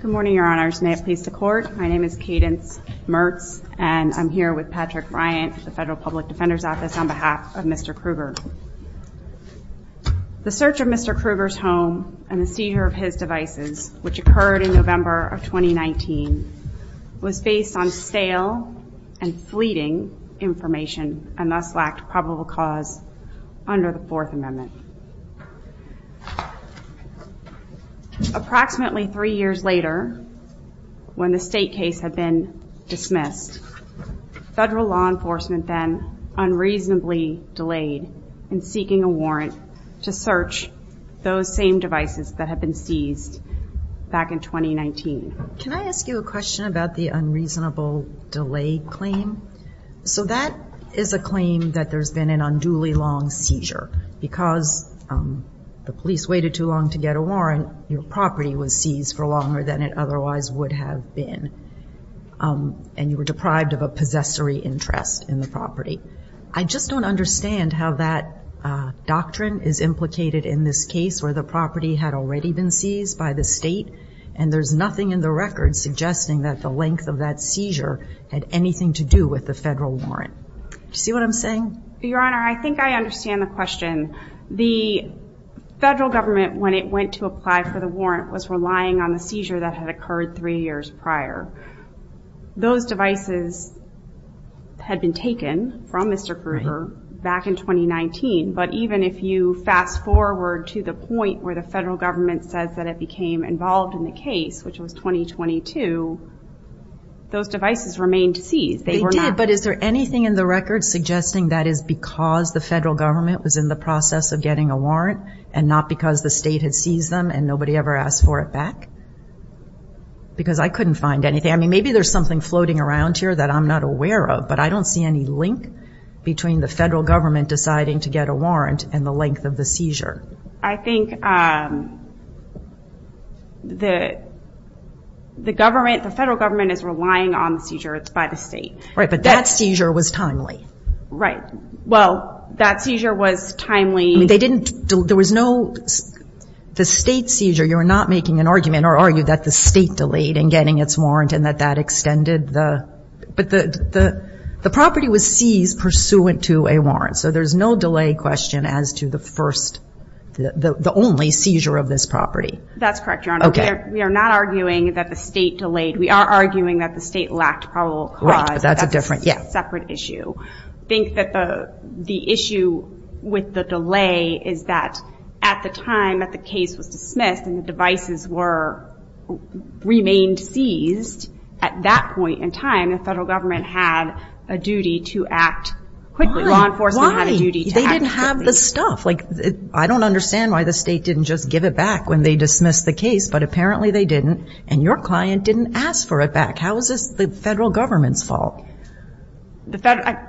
Good morning, your honors. May it please the court. My name is Cadence Mertz, and I'm here with Patrick Bryant, the Federal Public Defender's Office, on behalf of Mr. Krueger. The search of Mr. Krueger's home and the seizure of his devices, which occurred in November of 2019, was based on stale and fleeting information and thus lacked probable cause under the Fourth Amendment. Approximately three years later, when the state case had been dismissed, federal law enforcement then unreasonably delayed in seeking a warrant to search those same devices that had been seized back in 2019. Can I ask you a question about the unreasonable delay claim? So that is a claim that there's been an unduly long seizure because the police waited too long to get a warrant, your property was seized for longer than it otherwise would have been, and you were deprived of a possessory interest in the property. I just don't understand how that doctrine is implicated in this case where the property had already been seized by the state and there's nothing in the record suggesting that the length of that seizure had anything to do with the federal warrant. Do you see what I'm saying? Your Honor, I think I understand the question. The federal government, when it went to apply for the warrant, was relying on the seizure that had occurred three years prior. Those devices had been taken from Mr. Krueger back in 2019, but even if you fast forward to the point where the federal government says that it became involved in the case, which was 2022, those devices remained seized. They did, but is there anything in the record suggesting that is because the federal government was in the process of getting a warrant and not because the state had seized them and nobody ever asked for it back? Because I couldn't find anything. I mean, maybe there's something floating around here that I'm not aware of, but I don't see any link between the federal government deciding to get a warrant and the the government, the federal government is relying on the seizure. It's by the state. Right, but that seizure was timely. Right. Well, that seizure was timely. I mean, they didn't, there was no, the state seizure, you're not making an argument or argue that the state delayed in getting its warrant and that that extended the, but the property was seized pursuant to a warrant. So there's no delay question as to the first, the only seizure of this property. That's correct, Your Honor. Okay. We are not arguing that the state delayed. We are arguing that the state lacked probable cause. Right, but that's a different, yeah. That's a separate issue. I think that the issue with the delay is that at the time that the case was dismissed and the devices were, remained seized, at that point in time, the federal government had a duty to act quickly. Why? Law enforcement had a duty to have the stuff. Like, I don't understand why the state didn't just give it back when they dismissed the case, but apparently they didn't and your client didn't ask for it back. How is this the federal government's fault? It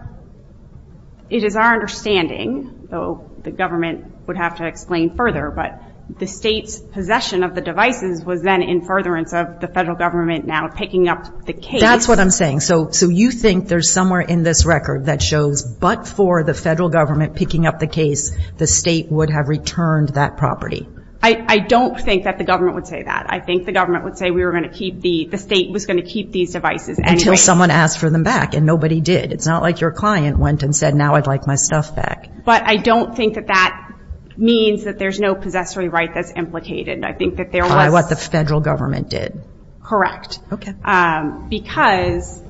is our understanding, though the government would have to explain further, but the state's possession of the devices was then in furtherance of the federal government now picking up the case. That's what I'm saying. So you think there's somewhere in this record that shows, but for the federal government picking up the case, the state would have returned that property? I don't think that the government would say that. I think the government would say we were going to keep the, the state was going to keep these devices anyways. Until someone asked for them back and nobody did. It's not like your client went and said, now I'd like my stuff back. But I don't think that that means that there's no possessory right that's implicated. I think that there was. By what the federal government did. Correct. Okay. Because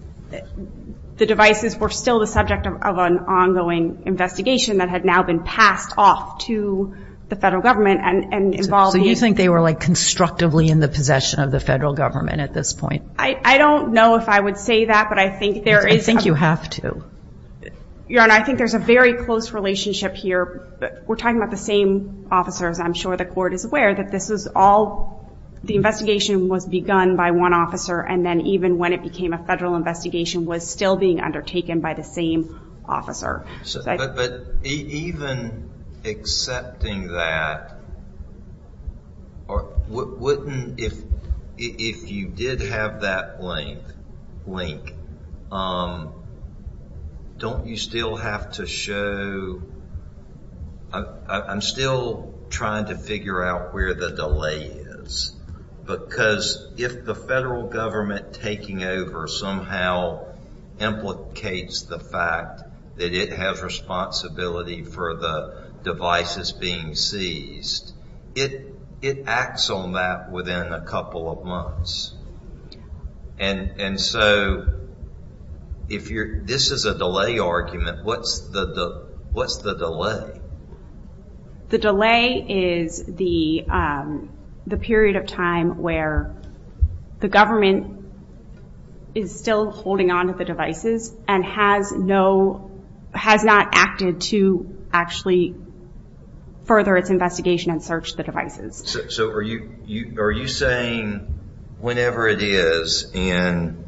the devices were still the subject of an ongoing investigation that had now been passed off to the federal government and involved. So you think they were like constructively in the possession of the federal government at this point? I don't know if I would say that, but I think there is. I think you have to. Your Honor, I think there's a very close relationship here. We're talking about the same officers. I'm sure the court is aware that this is all, the investigation was begun by one officer and then even when it became a federal investigation was still being undertaken by the same officer. But even accepting that, if you did have that link, don't you still have to show, I'm still trying to figure out where the delay is. Because if the federal government taking over somehow implicates the fact that it has responsibility for the devices being seized, it acts on that within a couple of months. And so, this is a delay argument. What's the delay? The delay is the period of time where the government is still holding onto the devices and has not acted to actually further its investigation and search the devices. So, are you saying whenever it is, and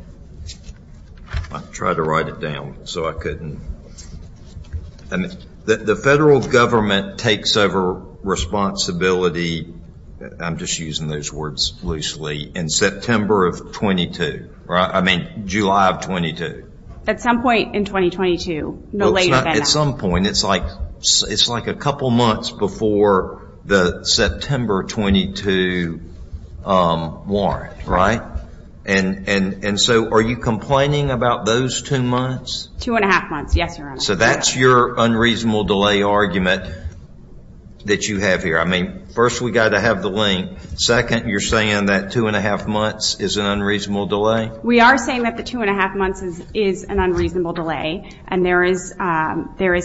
I tried to write it down, so I couldn't. The federal government takes over responsibility, I'm just using those words loosely, in September of 22, I mean July of 22. At some point in 2022, no later than that. It's like a couple months before the September 22 warrant, right? And so, are you complaining about those two months? Two and a half months, yes. So, that's your unreasonable delay argument that you have here. I mean, first we've got to have the link, second you're saying that two and a half months is an unreasonable delay? We are saying that the two and a half months is an unreasonable delay, and there is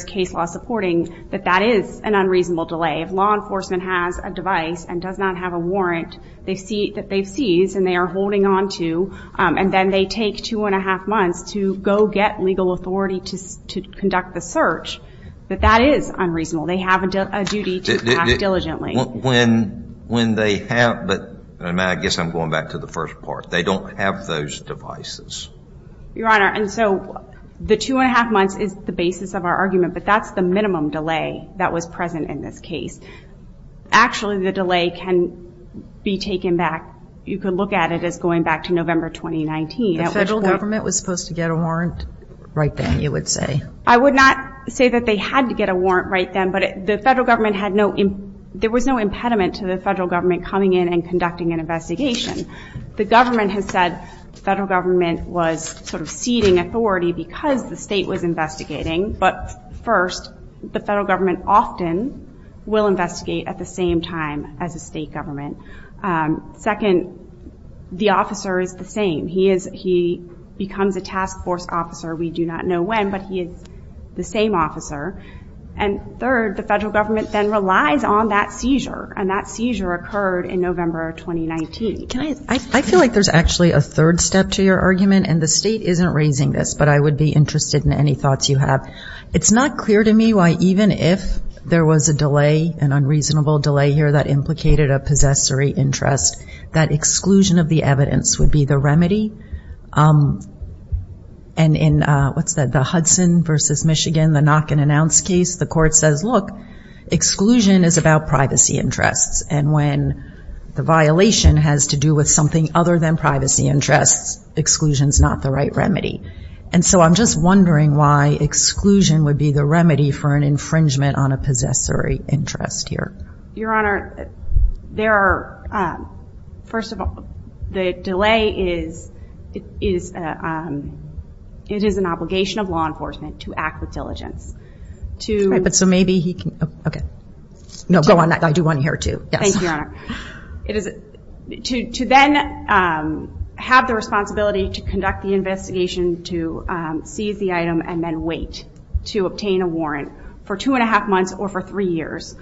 case law supporting that that is an unreasonable delay. If law enforcement has a device and does not have a warrant that they've seized and they are holding onto, and then they take two and a half months to go get legal authority to conduct the search, that that is unreasonable. They have a duty to act diligently. When they have, but I guess I'm going back to the first part. They don't have those devices. Your Honor, and so the two and a half months is the basis of our argument, but that's the minimum delay that was present in this case. Actually, the delay can be taken back. You could look at it as going back to November 2019. The federal government was supposed to get a warrant right then, you would say? I would not say that they had to get a warrant right then, but the federal government had no, there was no impediment to the federal government coming in and conducting an investigation. The government has said the federal government was sort of ceding authority because the state was investigating. But first, the federal government often will investigate at the same time as a state government. Second, the officer is the same. He becomes a task force officer. We do not know when, but he is the same officer. And third, the federal government then relies on that seizure, and that seizure occurred in November 2019. I feel like there's actually a third step to your argument, and the state isn't raising this, but I would be interested in any thoughts you have. It's not clear to me why even if there was a delay, an unreasonable delay here that implicated a possessory interest, that exclusion of the evidence would be the remedy. And in, what's that, the Hudson versus Michigan, the knock-and-announce case, the court says, look, exclusion is about privacy interests, and when the violation has to do with something other than privacy interests, exclusion is not the right remedy. And so I'm just wondering why exclusion would be the remedy for an infringement on a possessory interest here. Your Honor, there are, first of all, the delay is, it is an obligation of law enforcement to act with diligence. But so maybe he can, okay, no, go on, I do want to hear it too. Thank you, Your Honor. It is, to then have the responsibility to conduct the investigation, to seize the item, and then wait to obtain a warrant for two and a half months or for three years,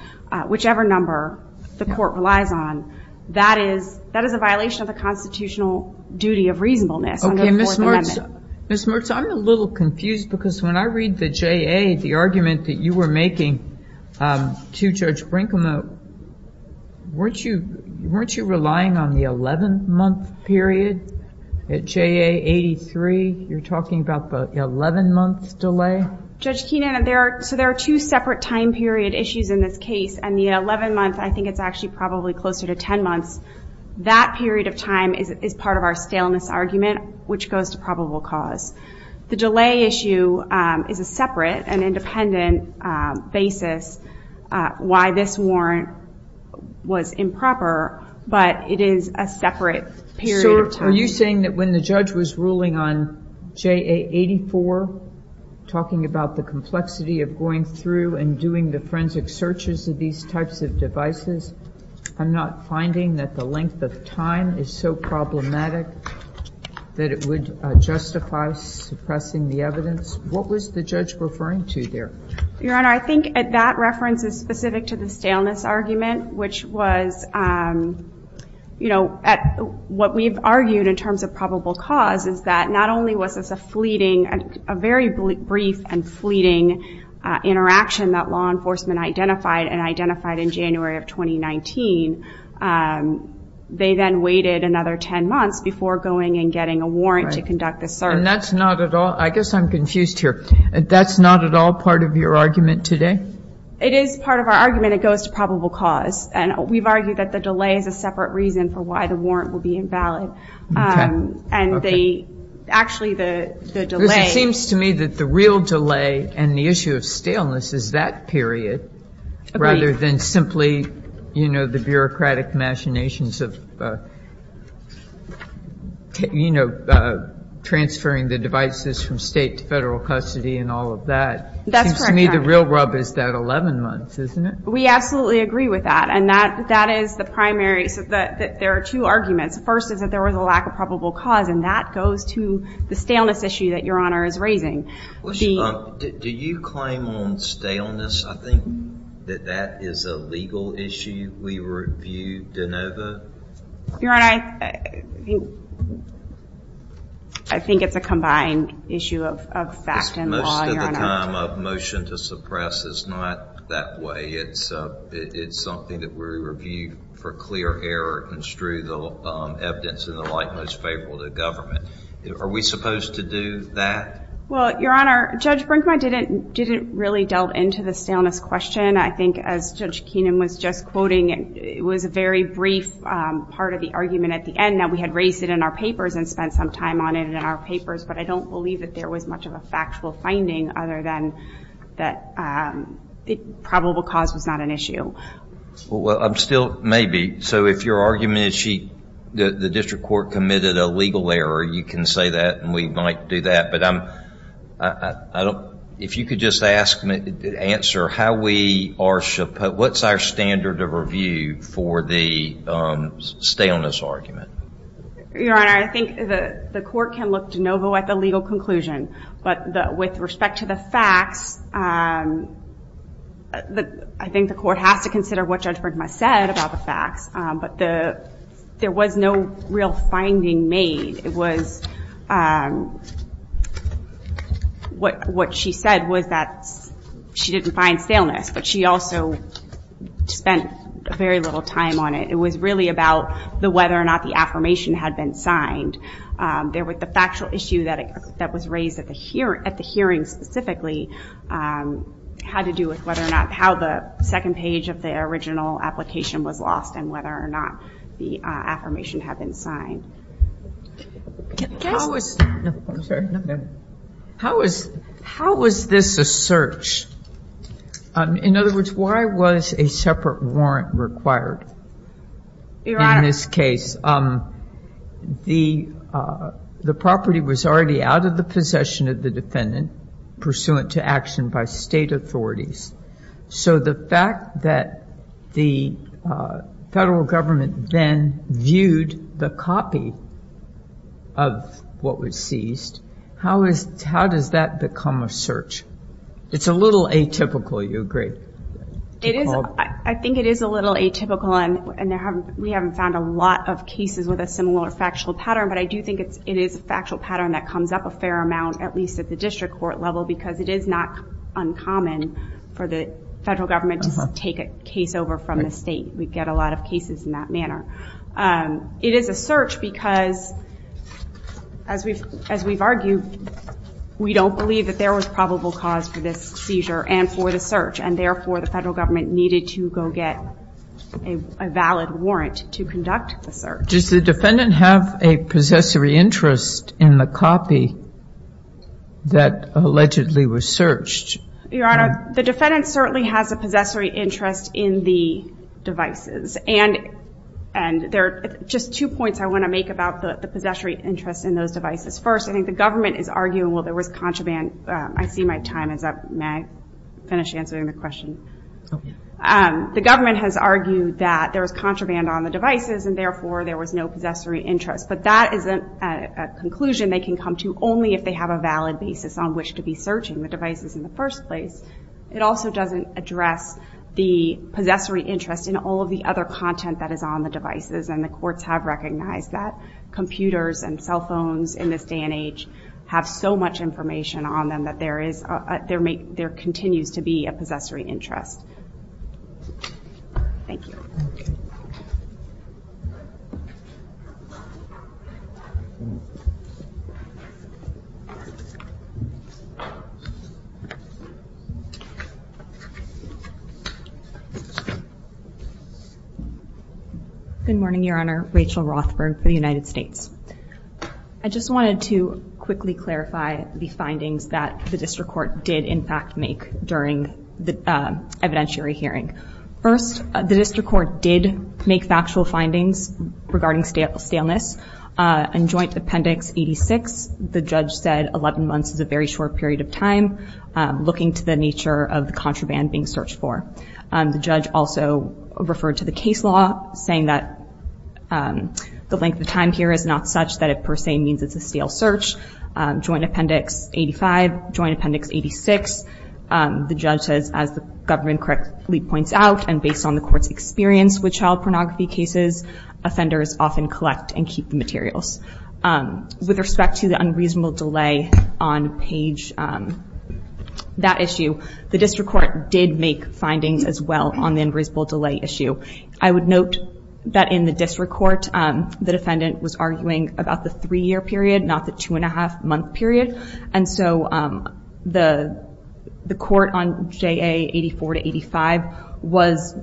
whichever number the court relies on. That is, that is a violation of the constitutional duty of reasonableness. Okay, Ms. Mertz, I'm a little confused because when I read the JA, the argument that you were making to Judge Brinkman, weren't you, weren't you relying on the 11-month period at JA 83? You're talking about the 11-month delay? Judge Keenan, there are, so there are two separate time period issues in this case, and the 11-month, I think it's actually probably closer to 10 months. That period of time is part of our staleness argument, which goes to probable cause. The delay issue is a separate and independent basis why this warrant was improper, but it is a separate period of time. So are you saying that when the judge was ruling on JA 84, talking about the complexity of going through and doing the forensic searches of these types of devices, I'm not finding that the length of time is so problematic that it would justify suppressing the evidence? What was the judge referring to there? Your Honor, I think that reference is specific to the staleness argument, which was, you know, what we've argued in terms of probable cause is that not only was this a fleeting, a very brief and fleeting interaction that law enforcement identified, and identified in January of 2019, they then waited another 10 months before going and getting a warrant to conduct the search. And that's not at all, I guess I'm confused here, that's not at all part of your argument today? It is part of our argument, it goes to probable cause, and we've argued that the delay is a warrant will be invalid. And they, actually the delay... It seems to me that the real delay and the issue of staleness is that period, rather than simply, you know, the bureaucratic machinations of, you know, transferring the devices from state to federal custody and all of that. That's correct, Your Honor. It seems to me the real rub is that 11 months, isn't it? We absolutely agree with that, and that is the primary, so there are two arguments. First is that there was a lack of probable cause, and that goes to the staleness issue that Your Honor is raising. Do you claim on staleness? I think that that is a legal issue we review de novo? Your Honor, I think it's a combined issue of fact and law, Your Honor. Motion to suppress is not that way. It's something that we review for clear error, and strew the evidence in the light most favorable to government. Are we supposed to do that? Well, Your Honor, Judge Brinkman didn't really delve into the staleness question. I think, as Judge Keenan was just quoting, it was a very brief part of the argument at the end, that we had raised it in our papers and spent some time on it in our papers, but I don't believe that there was much of a factual finding other than that probable cause was not an issue. Well, still, maybe. So if your argument is the district court committed a legal error, you can say that, and we might do that, but if you could just answer, what's our standard of review for the staleness argument? Your Honor, I think the court can look de novo at the legal conclusion, but with respect to the facts, I think the court has to consider what Judge Brinkman said about the facts, but there was no real finding made. What she said was that she didn't find staleness, but she also spent very little time on it. It was really about whether or not the affirmation had been signed. The factual issue that was raised at the hearing specifically had to do with how the second page of the original application was lost and whether or not the affirmation had been signed. I'm sorry. How was this a search? In other words, why was a separate warrant required in this case? The property was already out of the possession of the defendant, pursuant to action by state authorities. So the fact that the federal government then viewed the copy of what was seized, how does that become a search? It's a little atypical, you agree? I think it is a little atypical, and we haven't found a lot of cases with a similar factual pattern, but I do think it is a factual pattern that comes up a fair amount, at least at the district court level, because it is not uncommon for the federal government to take a case over from the state. We get a lot of cases in that manner. It is a search because, as we've argued, we don't believe that there was probable cause for this seizure and for the search, and therefore the federal government needed to go get a valid warrant to conduct the search. Does the defendant have a possessory interest in the copy that allegedly was searched? Your Honor, the defendant certainly has a possessory interest in the devices, and there are just two points I want to make about the possessory interest in those devices. First, I think the government is arguing, well, there was contraband. I see my time is up. May I finish answering the question? The government has argued that there was contraband on the devices, and therefore there was no possessory interest, but that isn't a conclusion they can come to only if they have a valid basis on which to be searching the devices in the first place. It also doesn't address the possessory interest in all of the other content that is on the devices, and the courts have recognized that computers and cell phones in this day and age have so much information on them that there continues to be a possessory interest. Thank you. Good morning, Your Honor. Rachel Rothberg for the United States. I just wanted to quickly clarify the findings that the district court did, in fact, make during the evidentiary hearing. First, the district court did make factual findings regarding staleness. In Joint Appendix 86, the judge said 11 months is a very short period of time looking to the nature of the contraband being searched for. The judge also referred to the case law saying that the length of time here is not such that it per se means it's a stale search. Joint Appendix 85, Joint Appendix 86, the judge says as the government correctly points out and based on the court's experience with child pornography cases, offenders often collect and keep the materials. With respect to the unreasonable delay on page that issue, the district court did make findings as well on the unreasonable delay issue. I would note that in the district court, the defendant was arguing about the three-year period, not the two-and-a-half-month period. And so the court on JA 84 to 85 was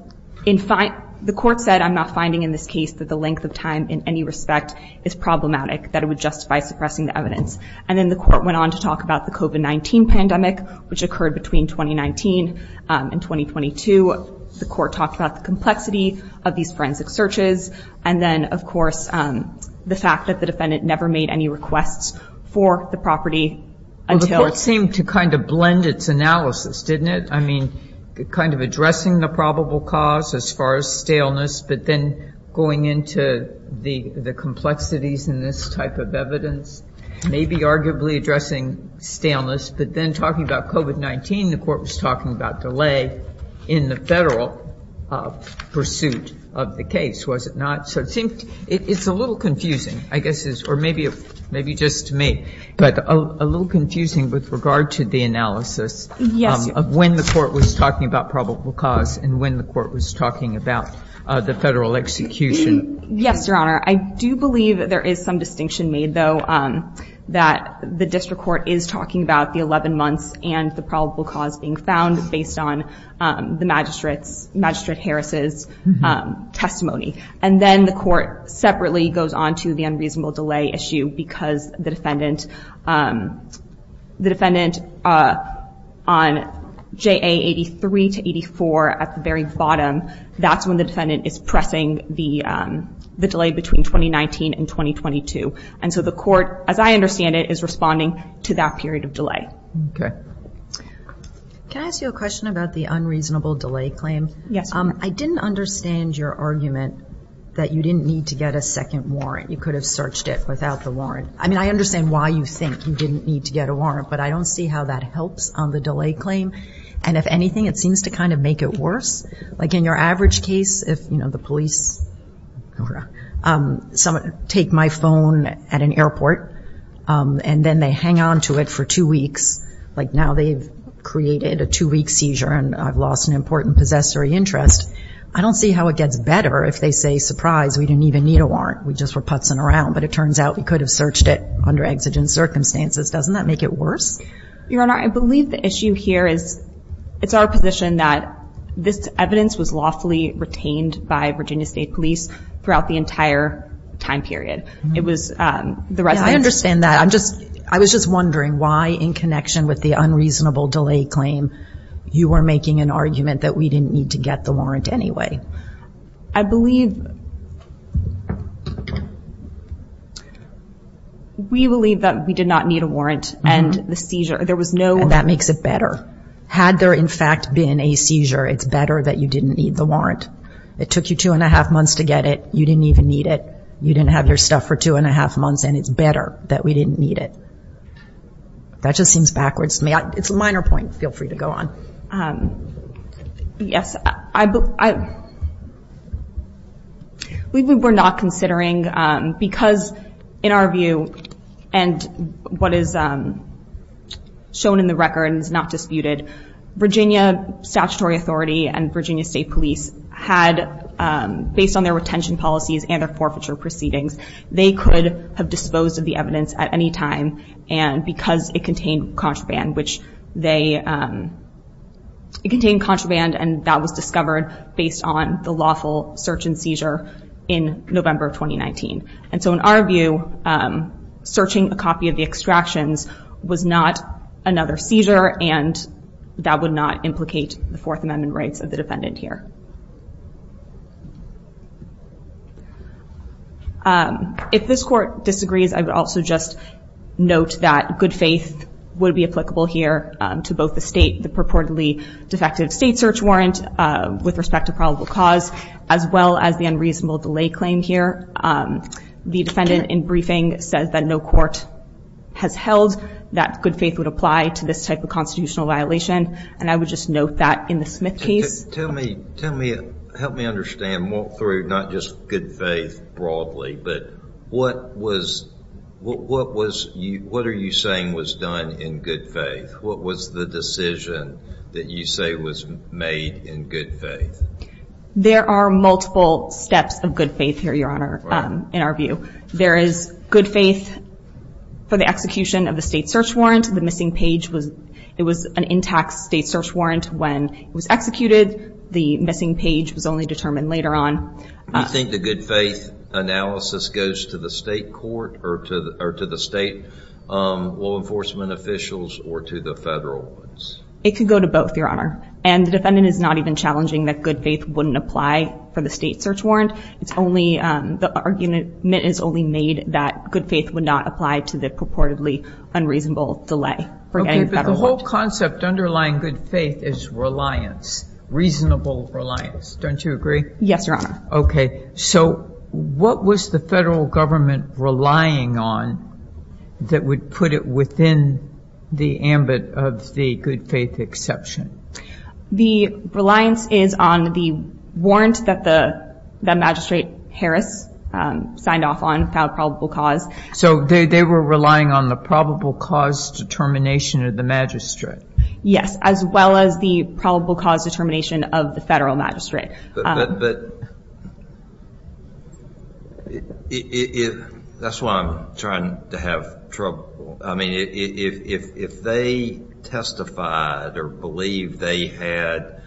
in fact, the court said, I'm not finding in this case that the length of time in any respect is problematic, that it would justify suppressing the evidence. And then the court went on to talk about the COVID-19 pandemic, which occurred between 2019 and 2022. The court talked about the complexity of these forensic searches. And then of course, the fact that the defendant never made any requests for the property. Well, the court seemed to kind of blend its analysis, didn't it? I mean, kind of addressing the probable cause as far as staleness, but then going into the complexities in this type of evidence, maybe arguably addressing staleness, but then talking about COVID-19, the court was talking about delay in the federal pursuit of the case, was it not? So it's a little confusing, I guess, or maybe just to me, but a little confusing with regard to the analysis of when the court was talking about probable cause and when the court was about the federal execution. Yes, Your Honor. I do believe that there is some distinction made though, that the district court is talking about the 11 months and the probable cause being found based on the magistrate Harris's testimony. And then the court separately goes on to the that's when the defendant is pressing the delay between 2019 and 2022. And so the court, as I understand it, is responding to that period of delay. Okay. Can I ask you a question about the unreasonable delay claim? Yes, Your Honor. I didn't understand your argument that you didn't need to get a second warrant. You could have searched it without the warrant. I mean, I understand why you think you didn't need to get a warrant, but I don't see how that helps on the case. If the police take my phone at an airport and then they hang on to it for two weeks, like now they've created a two-week seizure and I've lost an important possessory interest. I don't see how it gets better if they say, surprise, we didn't even need a warrant. We just were putzing around, but it turns out we could have searched it under exigent circumstances. Doesn't that make it worse? Your Honor, I believe the issue here is it's our position that this evidence was lawfully retained by Virginia State Police throughout the entire time period. It was the residents... I understand that. I was just wondering why, in connection with the unreasonable delay claim, you were making an argument that we didn't need to get the warrant anyway. I believe... We believe that we did not need a warrant and the seizure, there was no... That makes it better. Had there, in fact, been a seizure, it's better that you didn't need the warrant. It took you two and a half months to get it. You didn't even need it. You didn't have your stuff for two and a half months and it's better that we didn't need it. That just seems backwards to me. It's a minor point. Feel free to go on. Yes. We were not considering, because in our view and what is shown in the record and is not disputed, Virginia Statutory Authority and Virginia State Police had, based on their retention policies and their forfeiture proceedings, they could have disposed of the evidence at any time and because it contained contraband, which they... It contained contraband and that was discovered based on the lawful search and seizure in November 2019. And so in our view, searching a copy of the extractions was not another seizure and that would not implicate the Fourth Amendment rights of the defendant here. If this court disagrees, I would also just note that good faith would be applicable here to both the state, the purportedly defective state search warrant with respect to probable cause, as well as the unreasonable delay claim here. The defendant in briefing says that no court has held that good faith would apply to this type of constitutional violation and I would just note that in the Smith case. Tell me, help me understand, walk through, not just good faith broadly, but what are you saying was done in good faith? What was the decision that you say was made in good faith? There are multiple steps of good faith here, your honor, in our view. There is good faith for the execution of the state search warrant. The missing page was, it was an intact state search warrant when it was executed. The missing page was only determined later on. You think the good faith analysis goes to the state court or to the state law enforcement officials or to the federal ones? It could go to both, your honor, and the defendant is not even challenging that good faith wouldn't apply for the state search warrant. It's only, the argument is only made that good faith would not apply to the purportedly unreasonable delay. Okay, but the whole concept underlying good faith is reliance, reasonable reliance, don't you agree? Yes, your honor. Okay, so what was the federal government relying on that would put it within the ambit of the good faith exception? The reliance is on the warrant that the magistrate Harris signed off on without probable cause. So they were relying on the probable cause determination of the magistrate? Yes, as well as the probable cause determination of the federal magistrate. That's why I'm trying to have trouble. I mean, if they testified or believed they had,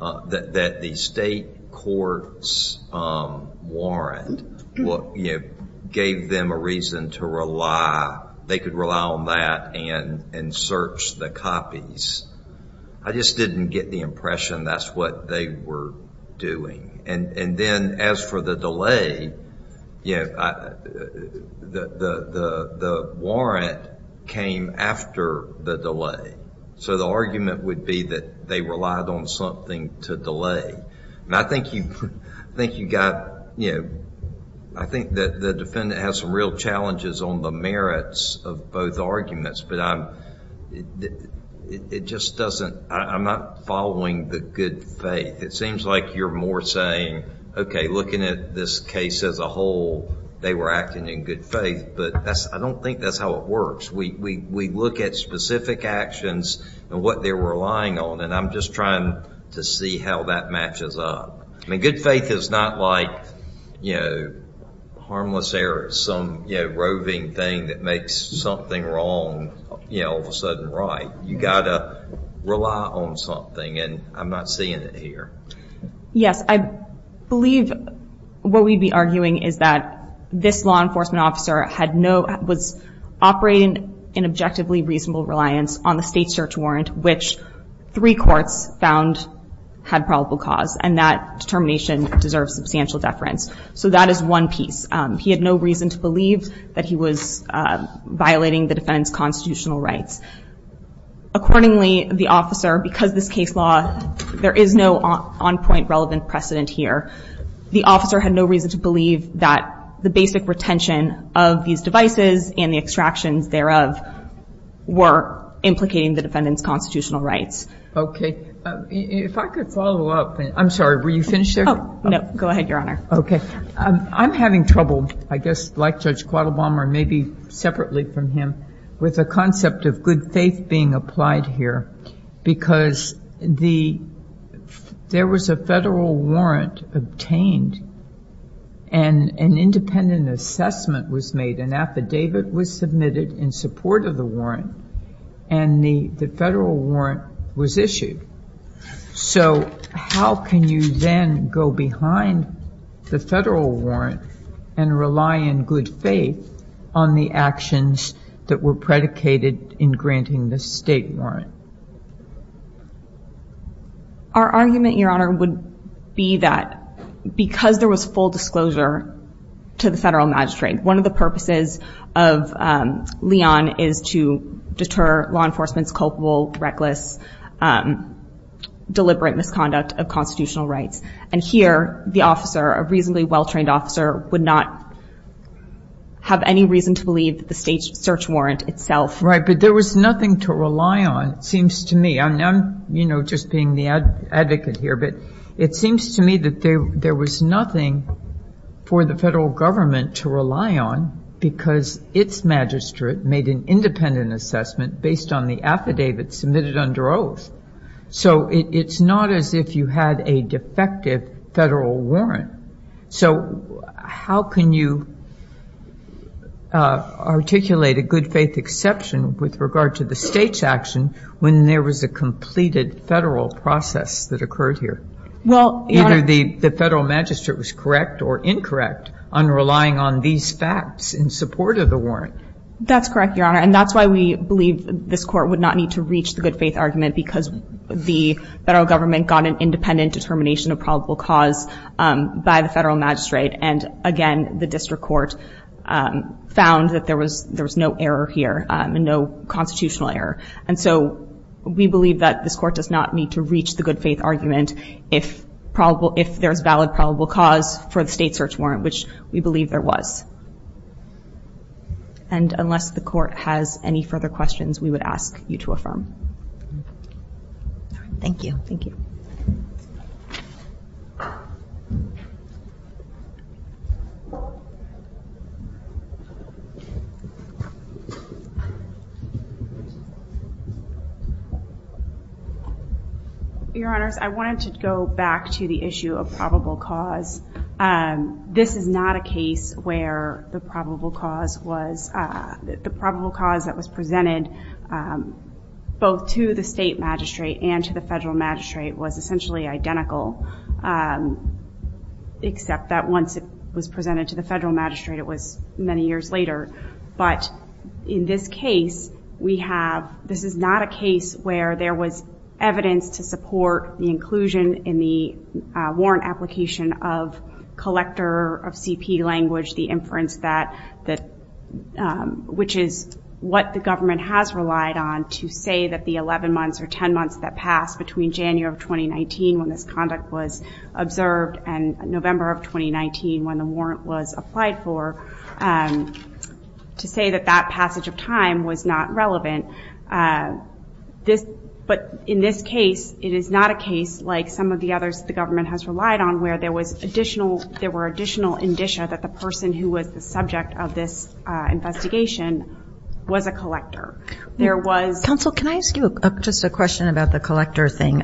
that the state court's warrant gave them a reason to rely, they could rely on that and search the copies. I just didn't get the impression that's what they were doing. And then, as for the delay, the warrant came after the delay. So the argument would be that they relied on something to delay. And I think you got, I think that the defendant has some real challenges on the merits of both arguments, but I'm not following the good faith. It seems like you're more saying, okay, looking at this case as a whole, they were acting in good faith, but I don't think that's how it works. We look at specific actions and what they were relying on, and I'm just trying to see how that matches up. I mean, good faith is not like, you know, harmless error, some roving thing that makes something wrong, you know, all of a sudden right. You got to rely on something, and I'm not seeing it here. Yes, I believe what we'd be arguing is that this law enforcement officer had no, was operating in objectively reasonable reliance on the state search warrant, which three courts found had probable cause, and that determination deserves substantial deference. So that is one piece. He had no reason to believe that he was violating the defendant's constitutional rights. Accordingly, the officer, because this case law, there is no on-point relevant precedent here, the officer had no reason to believe that the basic retention of these devices and the extractions thereof were implicating the defendant's constitutional rights. Okay. If I could follow up. I'm sorry, were you finished there? Oh, no. Go ahead, Your Honor. Okay. I'm having trouble, I guess, like Judge Quattlebaum, or maybe separately from him, with the concept of good faith being applied here, because the, there was a federal warrant obtained, and an independent assessment was made. An affidavit was submitted in support of the warrant, and the federal warrant was issued. So how can you then go behind the federal warrant and rely in good faith on the actions that were predicated in granting the state warrant? Our argument, Your Honor, would be that because there was full disclosure to the federal magistrate, one of the purposes of Leon is to deter law enforcement's culpable, reckless, deliberate misconduct of constitutional rights. And here, the officer, a reasonably well-trained officer, would not have any reason to believe the state's search warrant itself. Right. But there was nothing to rely on, it seems to me. I'm, you know, just being the advocate here, but it seems to me that there was nothing for the federal government to rely on, because its magistrate made an independent assessment based on the affidavit submitted under oath. So it's not as if you had a defective federal warrant. So how can you articulate a good faith exception with regard to the state's action when there was a completed federal process that occurred here? Well, Your Honor. Either the federal magistrate was correct or incorrect on relying on these facts in support of the warrant. That's correct, Your Honor. And that's why we believe this court would not need to reach the good faith argument, because the federal government got an independent determination of probable cause by the federal magistrate. And again, the district court found that there was no error here, no constitutional error. And so we believe that this court does not need to reach the good faith argument if there's valid probable cause for the state's search warrant, which we believe there was. And unless the court has any further questions, we would ask you to affirm. Thank you. Thank you. Your Honors, I wanted to go back to the issue of probable cause. This is not a case where the probable cause that was presented both to the state magistrate and to the federal magistrate was essentially identical, except that once it was presented to the federal magistrate, it was many years later. But in this case, this is not a case where there was evidence to support the inclusion in the warrant application of collector of CP language, the inference that, which is what the government has relied on to say that the 11 months or 10 months that passed between January of 2019 when this conduct was observed and November of 2019 when the warrant was applied for, to say that that passage of time was not relevant. But in this case, it is not a case like some of the others the government has relied on where there was additional, there were additional indicia that the person who was the subject of this investigation was a collector. There was... Counsel, can I ask you just a question about the collector thing?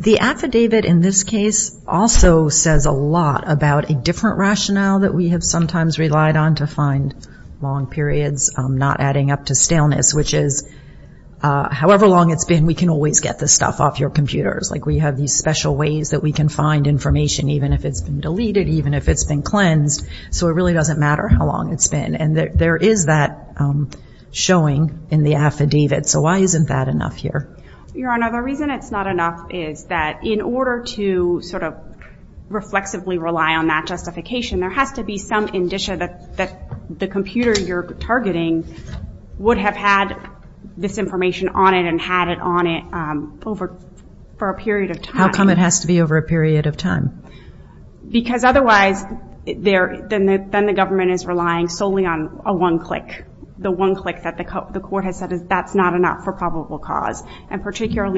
The affidavit in this case also says a lot about a different rationale that we have sometimes relied on to find long periods, not adding up to staleness, which is however long it's been, we can always get this stuff off your computers. Like we have these special ways that we can find information, even if it's been deleted, even if it's been cleansed. So it really doesn't matter how long it's been. And there is that showing in the affidavit. So why isn't that enough here? Your Honor, the reason it's not enough is that in order to sort of reflexively rely on that justification, there has to be some indicia that the computer you're targeting would have had this information on it and had it on it for a period of time. How come it has to be over a period of time? Because particularly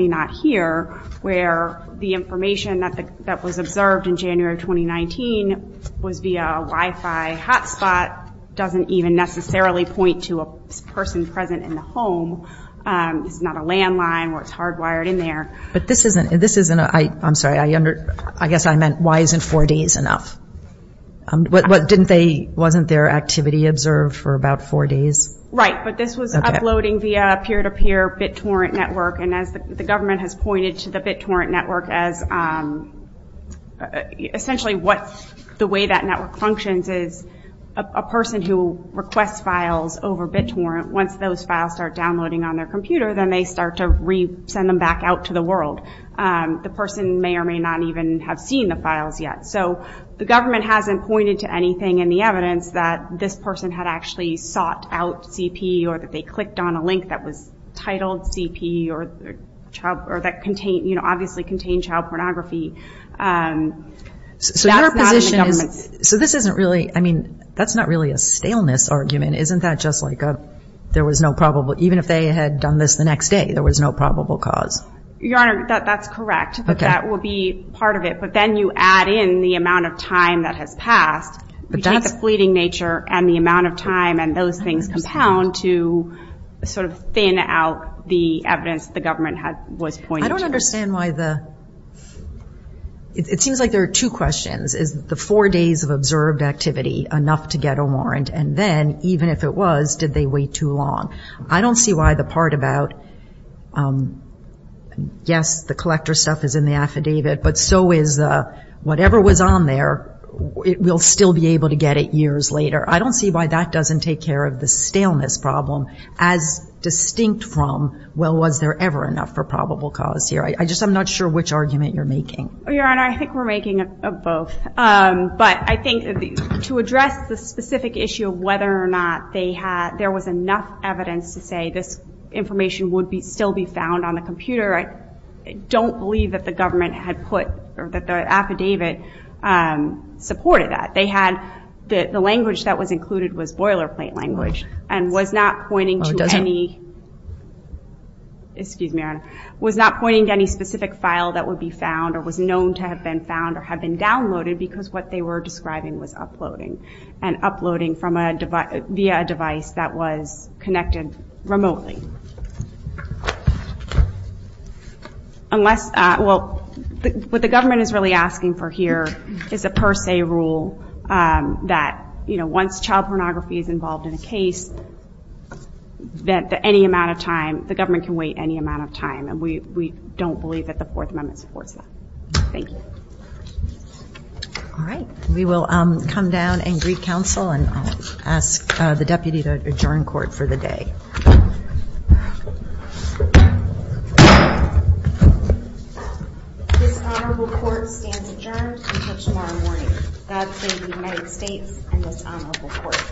not here, where the information that was observed in January of 2019 was via a Wi-Fi hotspot doesn't even necessarily point to a person present in the home. It's not a landline or it's hardwired in there. But this isn't... I'm sorry, I guess I meant why isn't four days enough? Wasn't their activity observed for about four days? Right, but this was uploading via peer-to-peer BitTorrent network. And as the government has pointed to the BitTorrent network as essentially what the way that network functions is a person who requests files over BitTorrent, once those files start downloading on their computer, then they start to re-send them back out to the world. The person may or may not even have seen the files yet. So the government hasn't pointed to anything in the documents that this person had actually sought out CPE or that they clicked on a link that was titled CPE or that obviously contained child pornography. So your position is... So this isn't really, I mean, that's not really a staleness argument. Isn't that just like there was no probable, even if they had done this the next day, there was no probable cause? Your Honor, that's correct. That will be part of it. But then you add in the amount of time that has passed. You take the fleeting nature and the amount of time and those things compound to sort of thin out the evidence the government was pointing to. I don't understand why the... It seems like there are two questions. Is the four days of observed activity enough to get a warrant? And then even if it was, did they wait too long? I don't see why the part about, yes, the collector stuff is in the affidavit, but so is whatever was on there, we'll still be able to get it years later. I don't see why that doesn't take care of the staleness problem as distinct from, well, was there ever enough for probable cause here? I'm just not sure which argument you're making. Your Honor, I think we're making both. But I think to address the specific issue of whether or not there was enough evidence to say this information would still be found on the computer, I don't believe that the government had put, or that the affidavit supported that. They had the language that was included was boilerplate language and was not pointing to any specific file that would be found or was known to have been found or have been downloaded because what they were describing was uploading and uploading via a device that was connected remotely. Unless, well, what the government is really asking for here is a per se rule that, you know, once child pornography is involved in a case, that any amount of time, the government can wait any amount of time. And we don't believe that the Fourth Amendment supports that. Thank you. All right. We will come down and greet counsel and ask the deputy to adjourn court for the day. This honorable court stands adjourned until tomorrow morning. God save the United States and this honorable court.